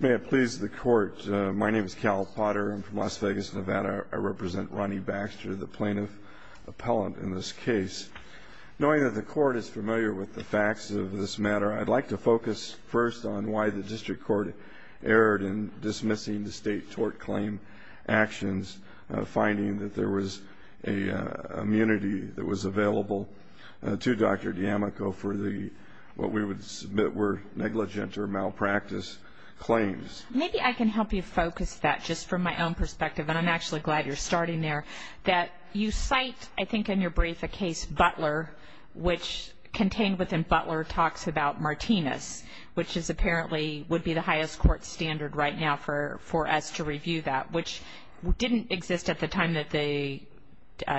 May it please the Court, my name is Cal Potter. I'm from Las Vegas, Nevada. I represent Ronnie Baxter, the plaintiff appellant in this case. Knowing that the Court is familiar with the facts of this matter, I'd like to focus first on why the District Court erred in dismissing the state tort claim actions, finding that there was an immunity that was available to Dr. D'Amico for what we would submit were negligent or malpractice claims. Maybe I can help you focus that, just from my own perspective, and I'm actually glad you're starting there. You cite, I think in your brief, a case, Butler, which contained within Butler talks about Martinez, which apparently would be the highest court standard right now for us to review that, which didn't exist at the time that the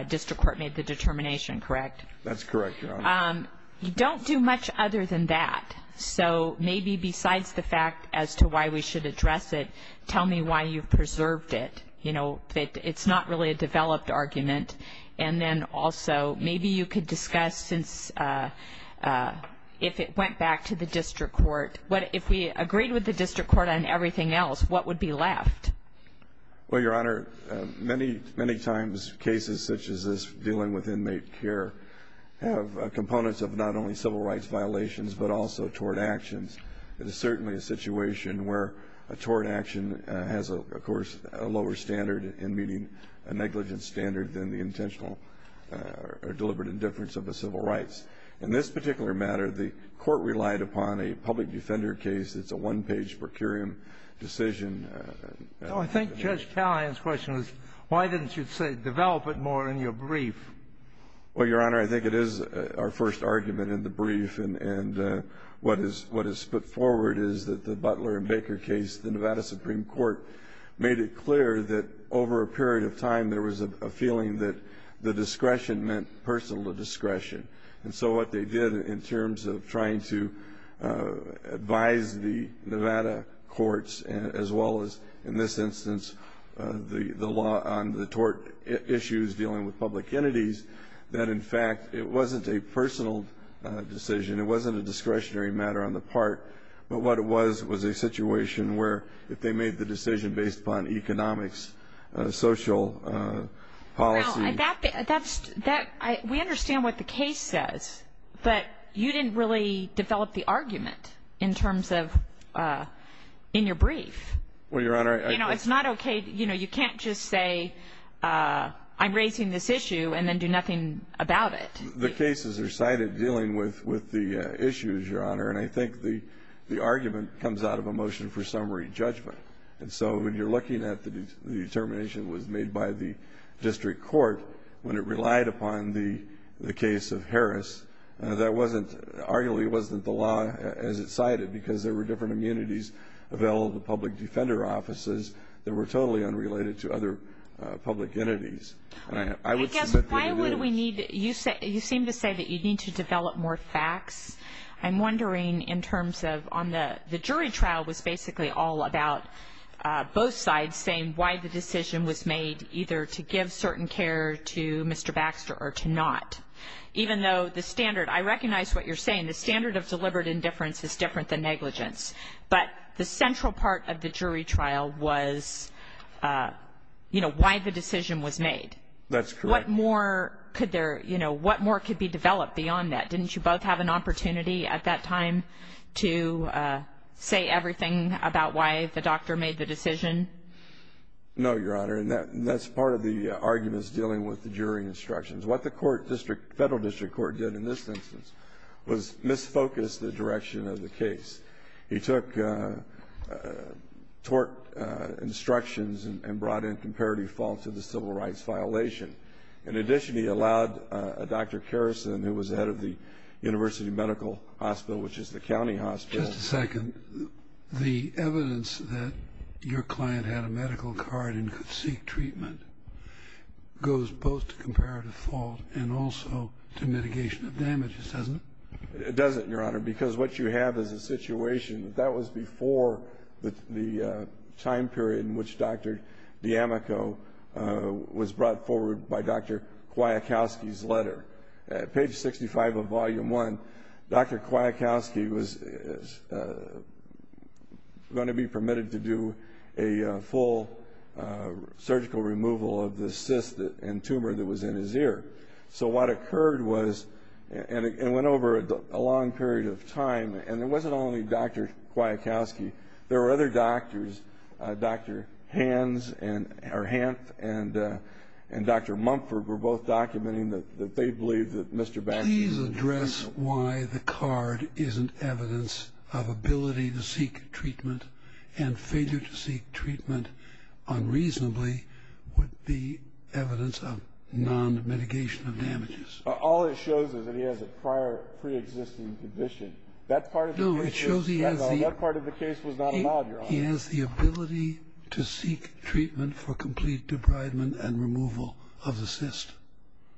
District Court made the determination, correct? That's correct, Your Honor. You don't do much other than that, so maybe besides the fact as to why we should address it, tell me why you've preserved it. It's not really a developed argument. And then also, maybe you could discuss if it went back to the District Court. If we agreed with the District Court on everything else, what would be left? Well, Your Honor, many times cases such as this dealing with inmate care have components of not only civil rights violations but also tort actions. It is certainly a situation where a tort action has, of course, a lower standard in meeting a negligence standard than the intentional or deliberate indifference of the civil rights. In this particular matter, the Court relied upon a public defender case. It's a one-page per curiam decision. No, I think Judge Tallien's question is why didn't you develop it more in your brief? Well, Your Honor, I think it is our first argument in the brief, and what is put forward is that the Butler and Baker case, the Nevada Supreme Court, made it clear that over a period of time there was a feeling that the discretion meant personal discretion. And so what they did in terms of trying to advise the Nevada courts as well as, in this instance, the law on the tort issues dealing with public entities, that, in fact, it wasn't a personal decision. It wasn't a discretionary matter on the part. But what it was was a situation where if they made the decision based upon economics, social policy. Now, we understand what the case says, but you didn't really develop the argument in terms of in your brief. Well, Your Honor. You know, it's not okay. You know, you can't just say I'm raising this issue and then do nothing about it. The cases are cited dealing with the issues, Your Honor, and I think the argument comes out of a motion for summary judgment. And so when you're looking at the determination that was made by the district court when it relied upon the case of Harris, that wasn't arguably wasn't the law as it cited because there were different immunities available to public defender offices that were totally unrelated to other public entities. I guess why would we need to do this? You seem to say that you need to develop more facts. I'm wondering in terms of on the jury trial was basically all about both sides saying why the decision was made, either to give certain care to Mr. Baxter or to not. Even though the standard, I recognize what you're saying, the standard of deliberate indifference is different than negligence, but the central part of the jury trial was, you know, why the decision was made. That's correct. What more could there, you know, what more could be developed beyond that? Didn't you both have an opportunity at that time to say everything about why the doctor made the decision? No, Your Honor, and that's part of the arguments dealing with the jury instructions. What the court district, federal district court did in this instance was misfocus the direction of the case. He took tort instructions and brought in comparative faults of the civil rights violation. In addition, he allowed Dr. Kerrison, who was head of the University Medical Hospital, which is the county hospital. Just a second. The evidence that your client had a medical card and could seek treatment goes both to comparative fault and also to mitigation of damages, doesn't it? It doesn't, Your Honor, because what you have is a situation. That was before the time period in which Dr. D'Amico was brought forward by Dr. Kwiatkowski's letter. Page 65 of Volume 1, Dr. Kwiatkowski was going to be permitted to do a full surgical removal of the cyst and tumor that was in his ear. So what occurred was, and it went over a long period of time, and it wasn't only Dr. Kwiatkowski. There were other doctors, Dr. Hans and Dr. Mumford were both documenting that they believed that Mr. Baskin Please address why the card isn't evidence of ability to seek treatment and failure to seek treatment unreasonably would be evidence of non-mitigation of damages. All it shows is that he has a prior pre-existing condition. That part of the case was not allowed, Your Honor. He has the ability to seek treatment for complete debridement and removal of the cyst.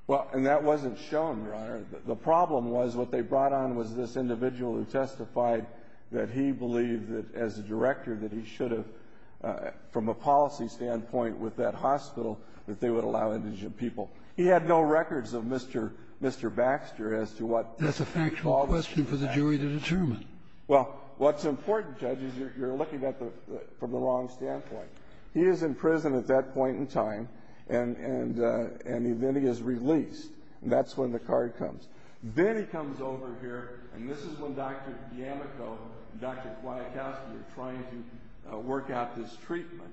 Well, and that wasn't shown, Your Honor. The problem was what they brought on was this individual who testified that he believed that as a director that he should have, from a policy standpoint, with that hospital, that they would allow indigent people. That's a factual question for the jury to determine. Well, what's important, Judge, is you're looking at it from the wrong standpoint. He is in prison at that point in time, and then he is released. That's when the card comes. Then he comes over here, and this is when Dr. Yamiko and Dr. Kwiatkowski are trying to work out this treatment.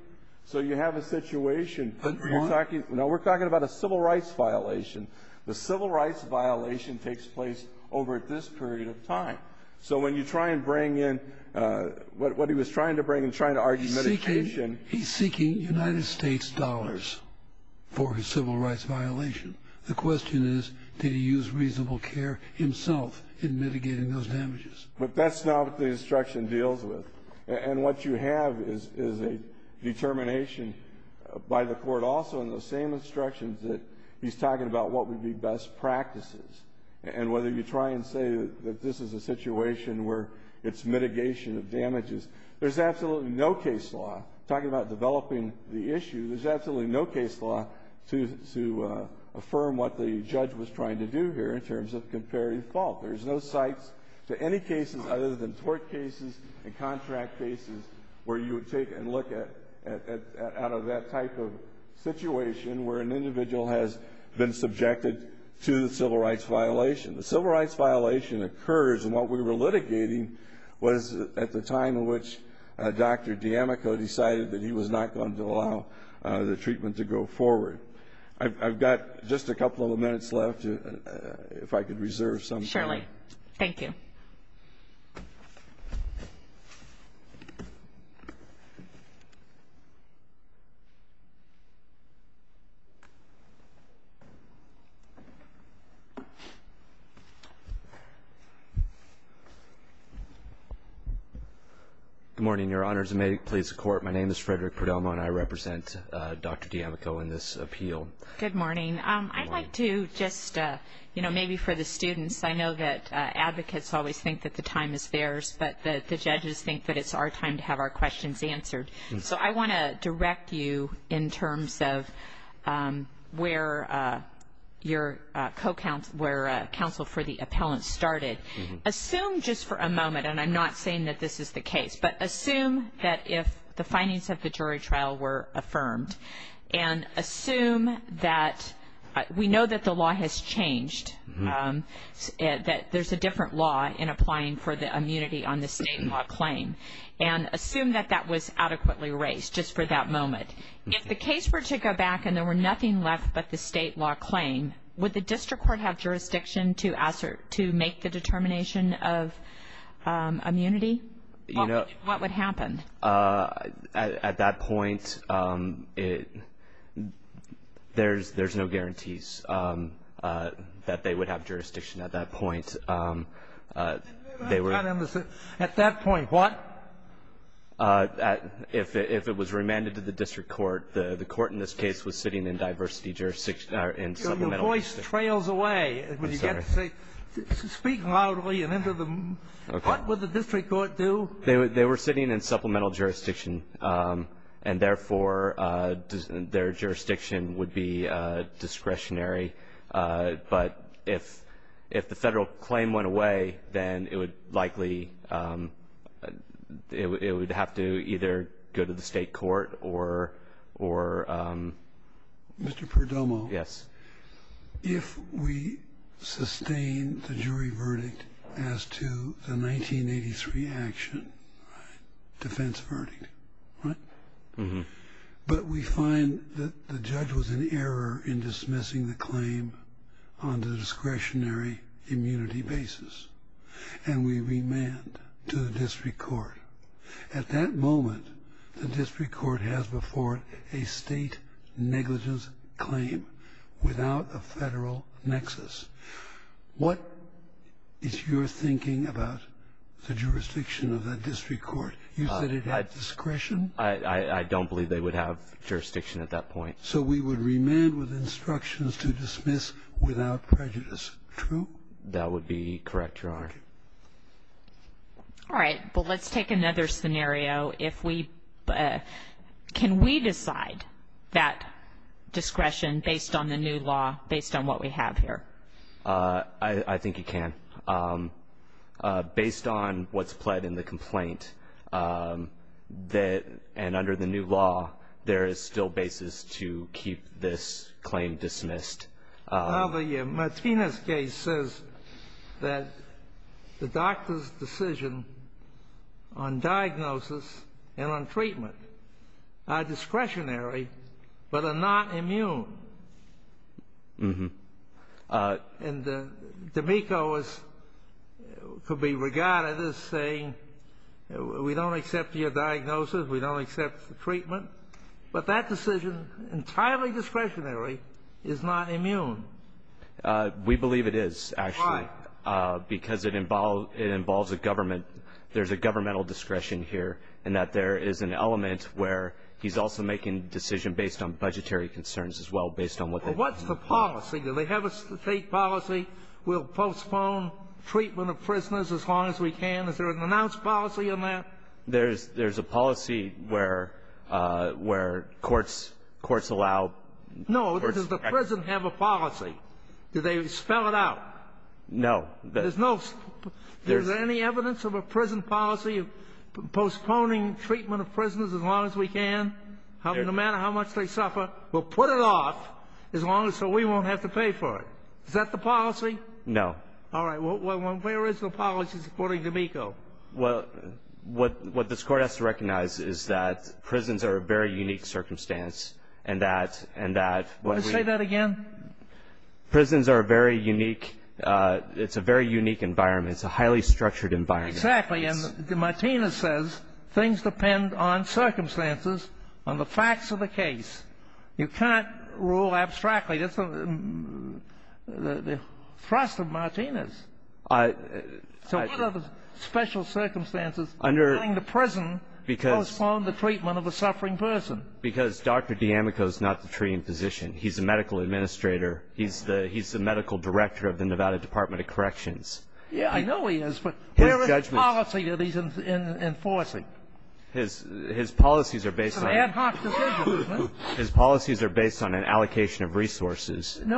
So you have a situation where you're talking about a civil rights violation. The civil rights violation takes place over this period of time. So when you try and bring in what he was trying to bring and trying to argue medication. He's seeking United States dollars for his civil rights violation. The question is, did he use reasonable care himself in mitigating those damages? But that's not what the instruction deals with. And what you have is a determination by the court also in the same instructions that he's talking about what would be best practices. And whether you try and say that this is a situation where it's mitigation of damages, there's absolutely no case law, talking about developing the issue, there's absolutely no case law to affirm what the judge was trying to do here in terms of comparative fault. There's no cites to any cases other than tort cases and contract cases where you would take and look at that type of situation where an individual has been subjected to the civil rights violation. The civil rights violation occurs and what we were litigating was at the time in which Dr. Yamiko decided that he was not going to allow the treatment to go forward. I've got just a couple of minutes left if I could reserve some time. Thank you. Good morning, Your Honors, and may it please the Court, my name is Frederick Perdomo and I represent Dr. Yamiko in this appeal. Good morning. I'd like to just, you know, maybe for the students, I know that advocates always think that the time is theirs, but the judges think that it's our time to have our questions answered. So I want to direct you in terms of where your co-counsel, where counsel for the appellant started. Assume just for a moment, and I'm not saying that this is the case, but assume that if the findings of the jury trial were affirmed and assume that we know that the law has changed, that there's a different law in applying for the immunity on the state law claim, and assume that that was adequately raised just for that moment. If the case were to go back and there were nothing left but the state law claim, would the district court have jurisdiction to make the determination of immunity? What would happen? At that point, there's no guarantees that they would have jurisdiction at that point. At that point, what? If it was remanded to the district court, the court in this case was sitting in diversity jurisdiction or in supplemental jurisdiction. Your voice trails away when you get to speak loudly. What would the district court do? They were sitting in supplemental jurisdiction, and therefore their jurisdiction would be discretionary. But if the Federal claim went away, then it would likely ñ it would have to either go to the state court or ñ Mr. Perdomo. Yes. If we sustain the jury verdict as to the 1983 action, defense verdict, right? But we find that the judge was in error in dismissing the claim on the discretionary immunity basis, and we remand to the district court. At that moment, the district court has before it a state negligence claim without a federal nexus. What is your thinking about the jurisdiction of that district court? You said it had discretion? I don't believe they would have jurisdiction at that point. So we would remand with instructions to dismiss without prejudice. True? That would be correct, Your Honor. Okay. All right. Well, let's take another scenario. If we ñ can we decide that discretion based on the new law, based on what we have here? I think you can. Based on what's pled in the complaint, and under the new law, there is still basis to keep this claim dismissed. Well, the Martinez case says that the doctor's decision on diagnosis and on treatment are discretionary but are not immune. And D'Amico could be regarded as saying, we don't accept your diagnosis, we don't accept the treatment, but that decision, entirely discretionary, is not immune. We believe it is, actually. Why? Because it involves a government ñ there's a governmental discretion here in that there is an element where he's also making a decision based on budgetary concerns as well, based on what they have. Well, what's the policy? Do they have a state policy, we'll postpone treatment of prisoners as long as we can? Is there an announced policy on that? There's a policy where courts allow ñ No. Does the prison have a policy? Do they spell it out? No. Is there any evidence of a prison policy of postponing treatment of prisoners as long as we can? No matter how much they suffer, we'll put it off so we won't have to pay for it. Is that the policy? No. All right. Well, where is the policy, according to D'Amico? What this Court has to recognize is that prisons are a very unique circumstance and that ñ Say that again? Prisons are a very unique ñ it's a very unique environment. It's a highly structured environment. Exactly. And Martinez says things depend on circumstances, on the facts of the case. You can't rule abstractly. That's the thrust of Martinez. So what are the special circumstances under which the prison postponed the treatment of a suffering person? Because Dr. D'Amico is not the treating physician. He's the medical administrator. He's the medical director of the Nevada Department of Corrections. Yes, I know he is, but where is the policy that he's enforcing? His policies are based on ñ It's an ad hoc decision, isn't it? His policies are based on an allocation of resources. Do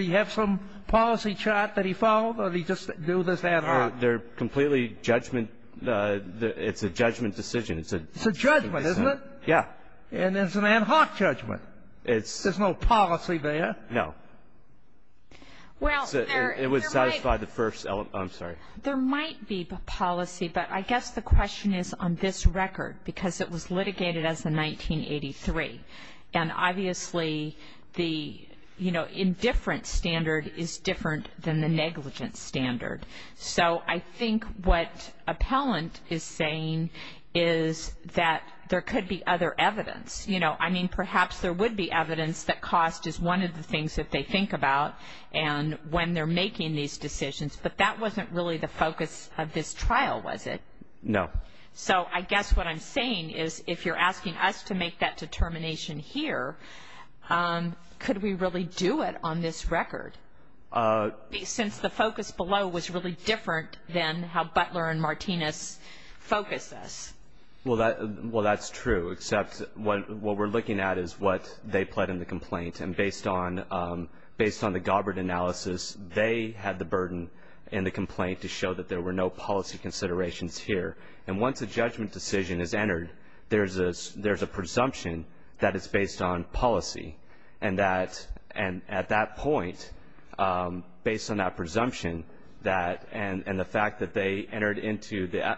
you have some policy chart that he followed, or did he just do this ad hoc? They're completely judgment ñ it's a judgment decision. It's a judgment, isn't it? Yeah. And it's an ad hoc judgment. There's no policy there. No. It would satisfy the first ñ oh, I'm sorry. There might be policy, but I guess the question is on this record, because it was litigated as in 1983. And obviously the indifference standard is different than the negligence standard. So I think what appellant is saying is that there could be other evidence. I mean, perhaps there would be evidence that cost is one of the things that they think about when they're making these decisions, but that wasn't really the focus of this trial, was it? No. So I guess what I'm saying is if you're asking us to make that determination here, could we really do it on this record? Since the focus below was really different than how Butler and Martinez focused this. Well, that's true, except what we're looking at is what they pled in the complaint. And based on the Gobbert analysis, they had the burden in the complaint to show that there were no policy considerations here. And once a judgment decision is entered, there's a presumption that it's based on policy. And that at that point, based on that presumption, that and the fact that they entered into the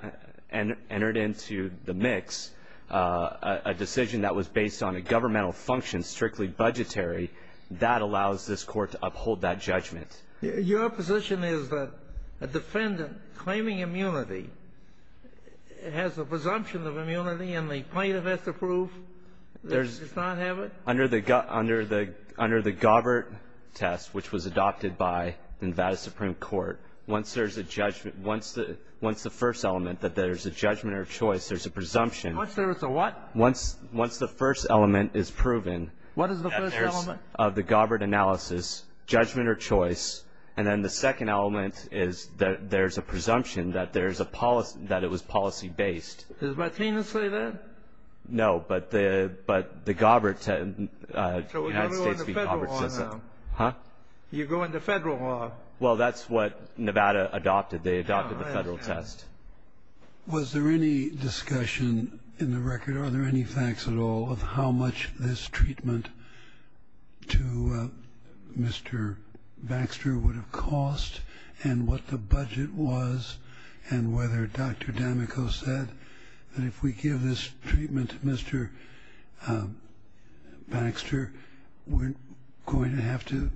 mix a decision that was based on a governmental function, strictly budgetary, that allows this Court to uphold that judgment. Your position is that a defendant claiming immunity has a presumption of immunity and the plaintiff has to prove they did not have it? Under the Gobbert test, which was adopted by the Nevada Supreme Court, once there's a judgment, once the first element that there's a judgment or choice, there's a presumption. Once there's a what? Once the first element is proven. What is the first element? Of the Gobbert analysis, judgment or choice. And then the second element is that there's a presumption that it was policy-based. Does Martinez say that? No. But the Gobbert test, the United States v. Gobbert says that. Huh? You're going to federal law? Well, that's what Nevada adopted. They adopted the federal test. Was there any discussion in the record, are there any facts at all, of how much this treatment to Mr. Baxter would have cost and what the budget was and whether Dr. Damico said that if we give this treatment to Mr. Baxter, we're going to have to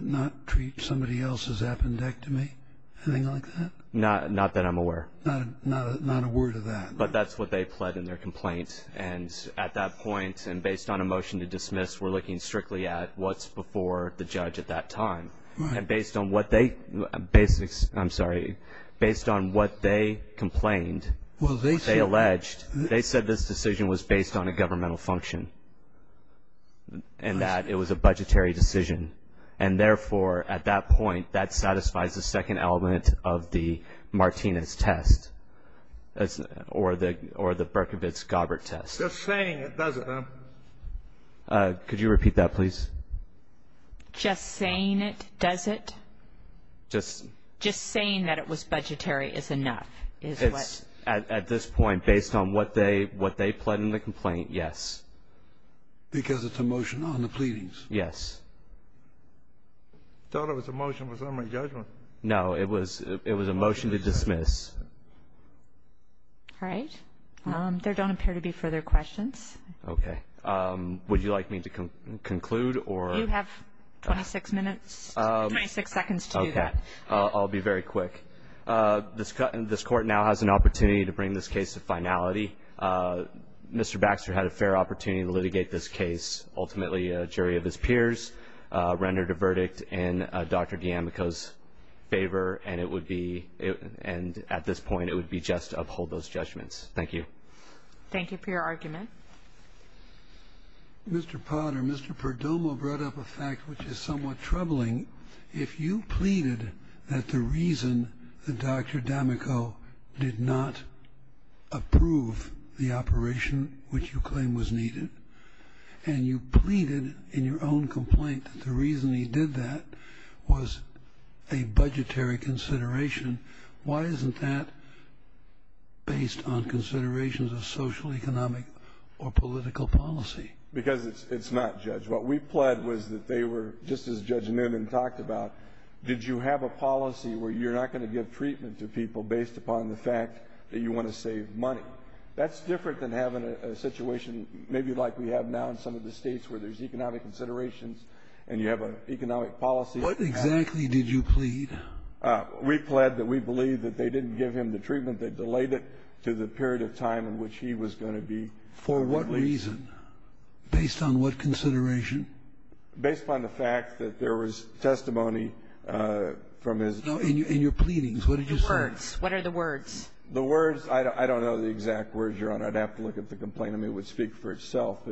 not treat somebody else's appendectomy, anything like that? Not that I'm aware. Not a word of that. But that's what they pled in their complaint. And at that point, and based on a motion to dismiss, we're looking strictly at what's before the judge at that time. Right. And based on what they, I'm sorry, based on what they complained, they alleged, they said this decision was based on a governmental function and that it was a budgetary decision. And therefore, at that point, that satisfies the second element of the Martinez test or the Berkovitz-Gobbert test. Just saying it does it, though. Could you repeat that, please? Just saying it does it. Just saying that it was budgetary is enough. At this point, based on what they pled in the complaint, yes. Because it's a motion on the pleadings. Yes. I thought it was a motion for summary judgment. No, it was a motion to dismiss. All right. There don't appear to be further questions. Okay. Would you like me to conclude or? You have 26 minutes, 26 seconds to do that. Okay. I'll be very quick. This Court now has an opportunity to bring this case to finality. Mr. Baxter had a fair opportunity to litigate this case. Ultimately, a jury of his peers rendered a verdict in Dr. D'Amico's favor, and at this point it would be just to uphold those judgments. Thank you. Thank you for your argument. Mr. Potter, Mr. Perdomo brought up a fact which is somewhat troubling. If you pleaded that the reason that Dr. D'Amico did not approve the operation, which you claim was needed, and you pleaded in your own complaint that the reason he did that was a budgetary consideration, why isn't that based on considerations of social, economic, or political policy? Because it's not, Judge. What we pled was that they were, just as Judge Newman talked about, did you have a policy where you're not going to give treatment to people based upon the fact that you want to save money? That's different than having a situation maybe like we have now in some of the states where there's economic considerations and you have an economic policy. What exactly did you plead? We pled that we believe that they didn't give him the treatment. They delayed it to the period of time in which he was going to be released. For what reason? Based on what consideration? Based upon the fact that there was testimony from his ---- No, in your pleadings. What did you say? The words. What are the words? The words, I don't know the exact words, Your Honor. I'd have to look at the complaint. I mean, it would speak for itself.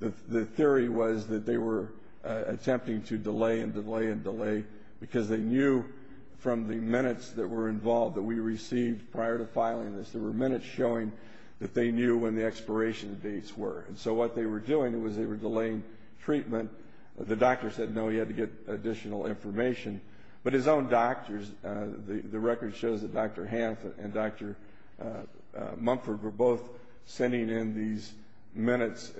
The theory was that they were attempting to delay and delay and delay because they knew from the minutes that were involved that we received prior to filing this. There were minutes showing that they knew when the expiration dates were. And so what they were doing was they were delaying treatment. The doctor said no, he had to get additional information. But his own doctors, the record shows that Dr. Hanf and Dr. Mumford were both sending in these minutes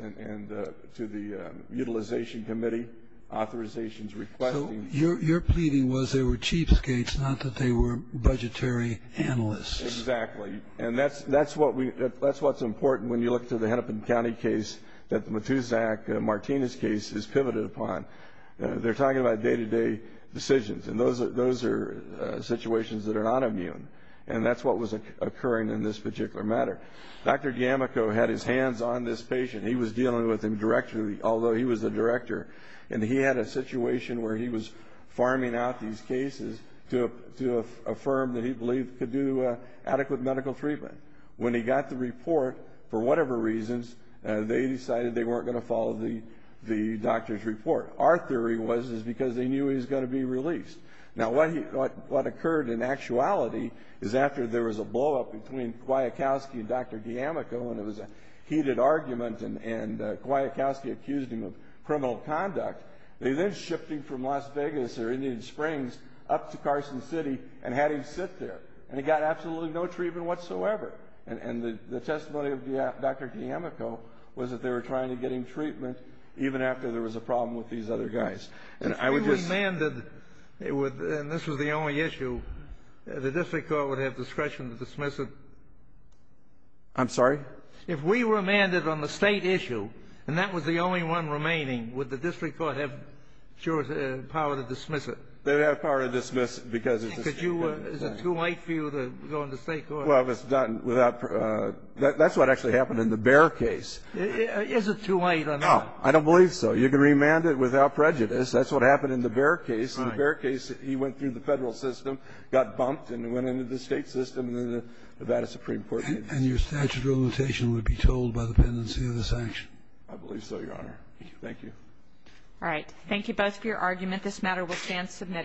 to the Utilization Committee, authorizations requesting. So your pleading was they were cheapskates, not that they were budgetary analysts. Exactly. And that's what's important when you look to the Hennepin County case that the Matuzak-Martinez case is pivoted upon. They're talking about day-to-day decisions, and those are situations that are not immune. And that's what was occurring in this particular matter. Dr. Yamiko had his hands on this patient. He was dealing with him directly, although he was the director. And he had a situation where he was farming out these cases to affirm that he believed he could do adequate medical treatment. When he got the report, for whatever reasons, they decided they weren't going to follow the doctor's report. Our theory was it was because they knew he was going to be released. Now, what occurred in actuality is after there was a blowup between Kwiatkowski and Dr. Yamiko and it was a heated argument and Kwiatkowski accused him of criminal conduct, they then shipped him from Las Vegas or Indian Springs up to Carson City and had him sit there. And he got absolutely no treatment whatsoever. And the testimony of Dr. Yamiko was that they were trying to get him treatment even after there was a problem with these other guys. If we remanded, and this was the only issue, the district court would have discretion to dismiss it? I'm sorry? If we remanded on the State issue, and that was the only one remaining, would the district court have power to dismiss it? They would have power to dismiss it because it's a State case. Is it too late for you to go into State court? Well, that's what actually happened in the Bear case. Is it too late or not? I don't believe so. You can remand it without prejudice. That's what happened in the Bear case. In the Bear case, he went through the Federal system, got bumped and went into the State system and then the Nevada Supreme Court. And your statute of limitation would be told by the pendency of the sanction? I believe so, Your Honor. Thank you. All right. Thank you both for your argument. This matter will stand submitted.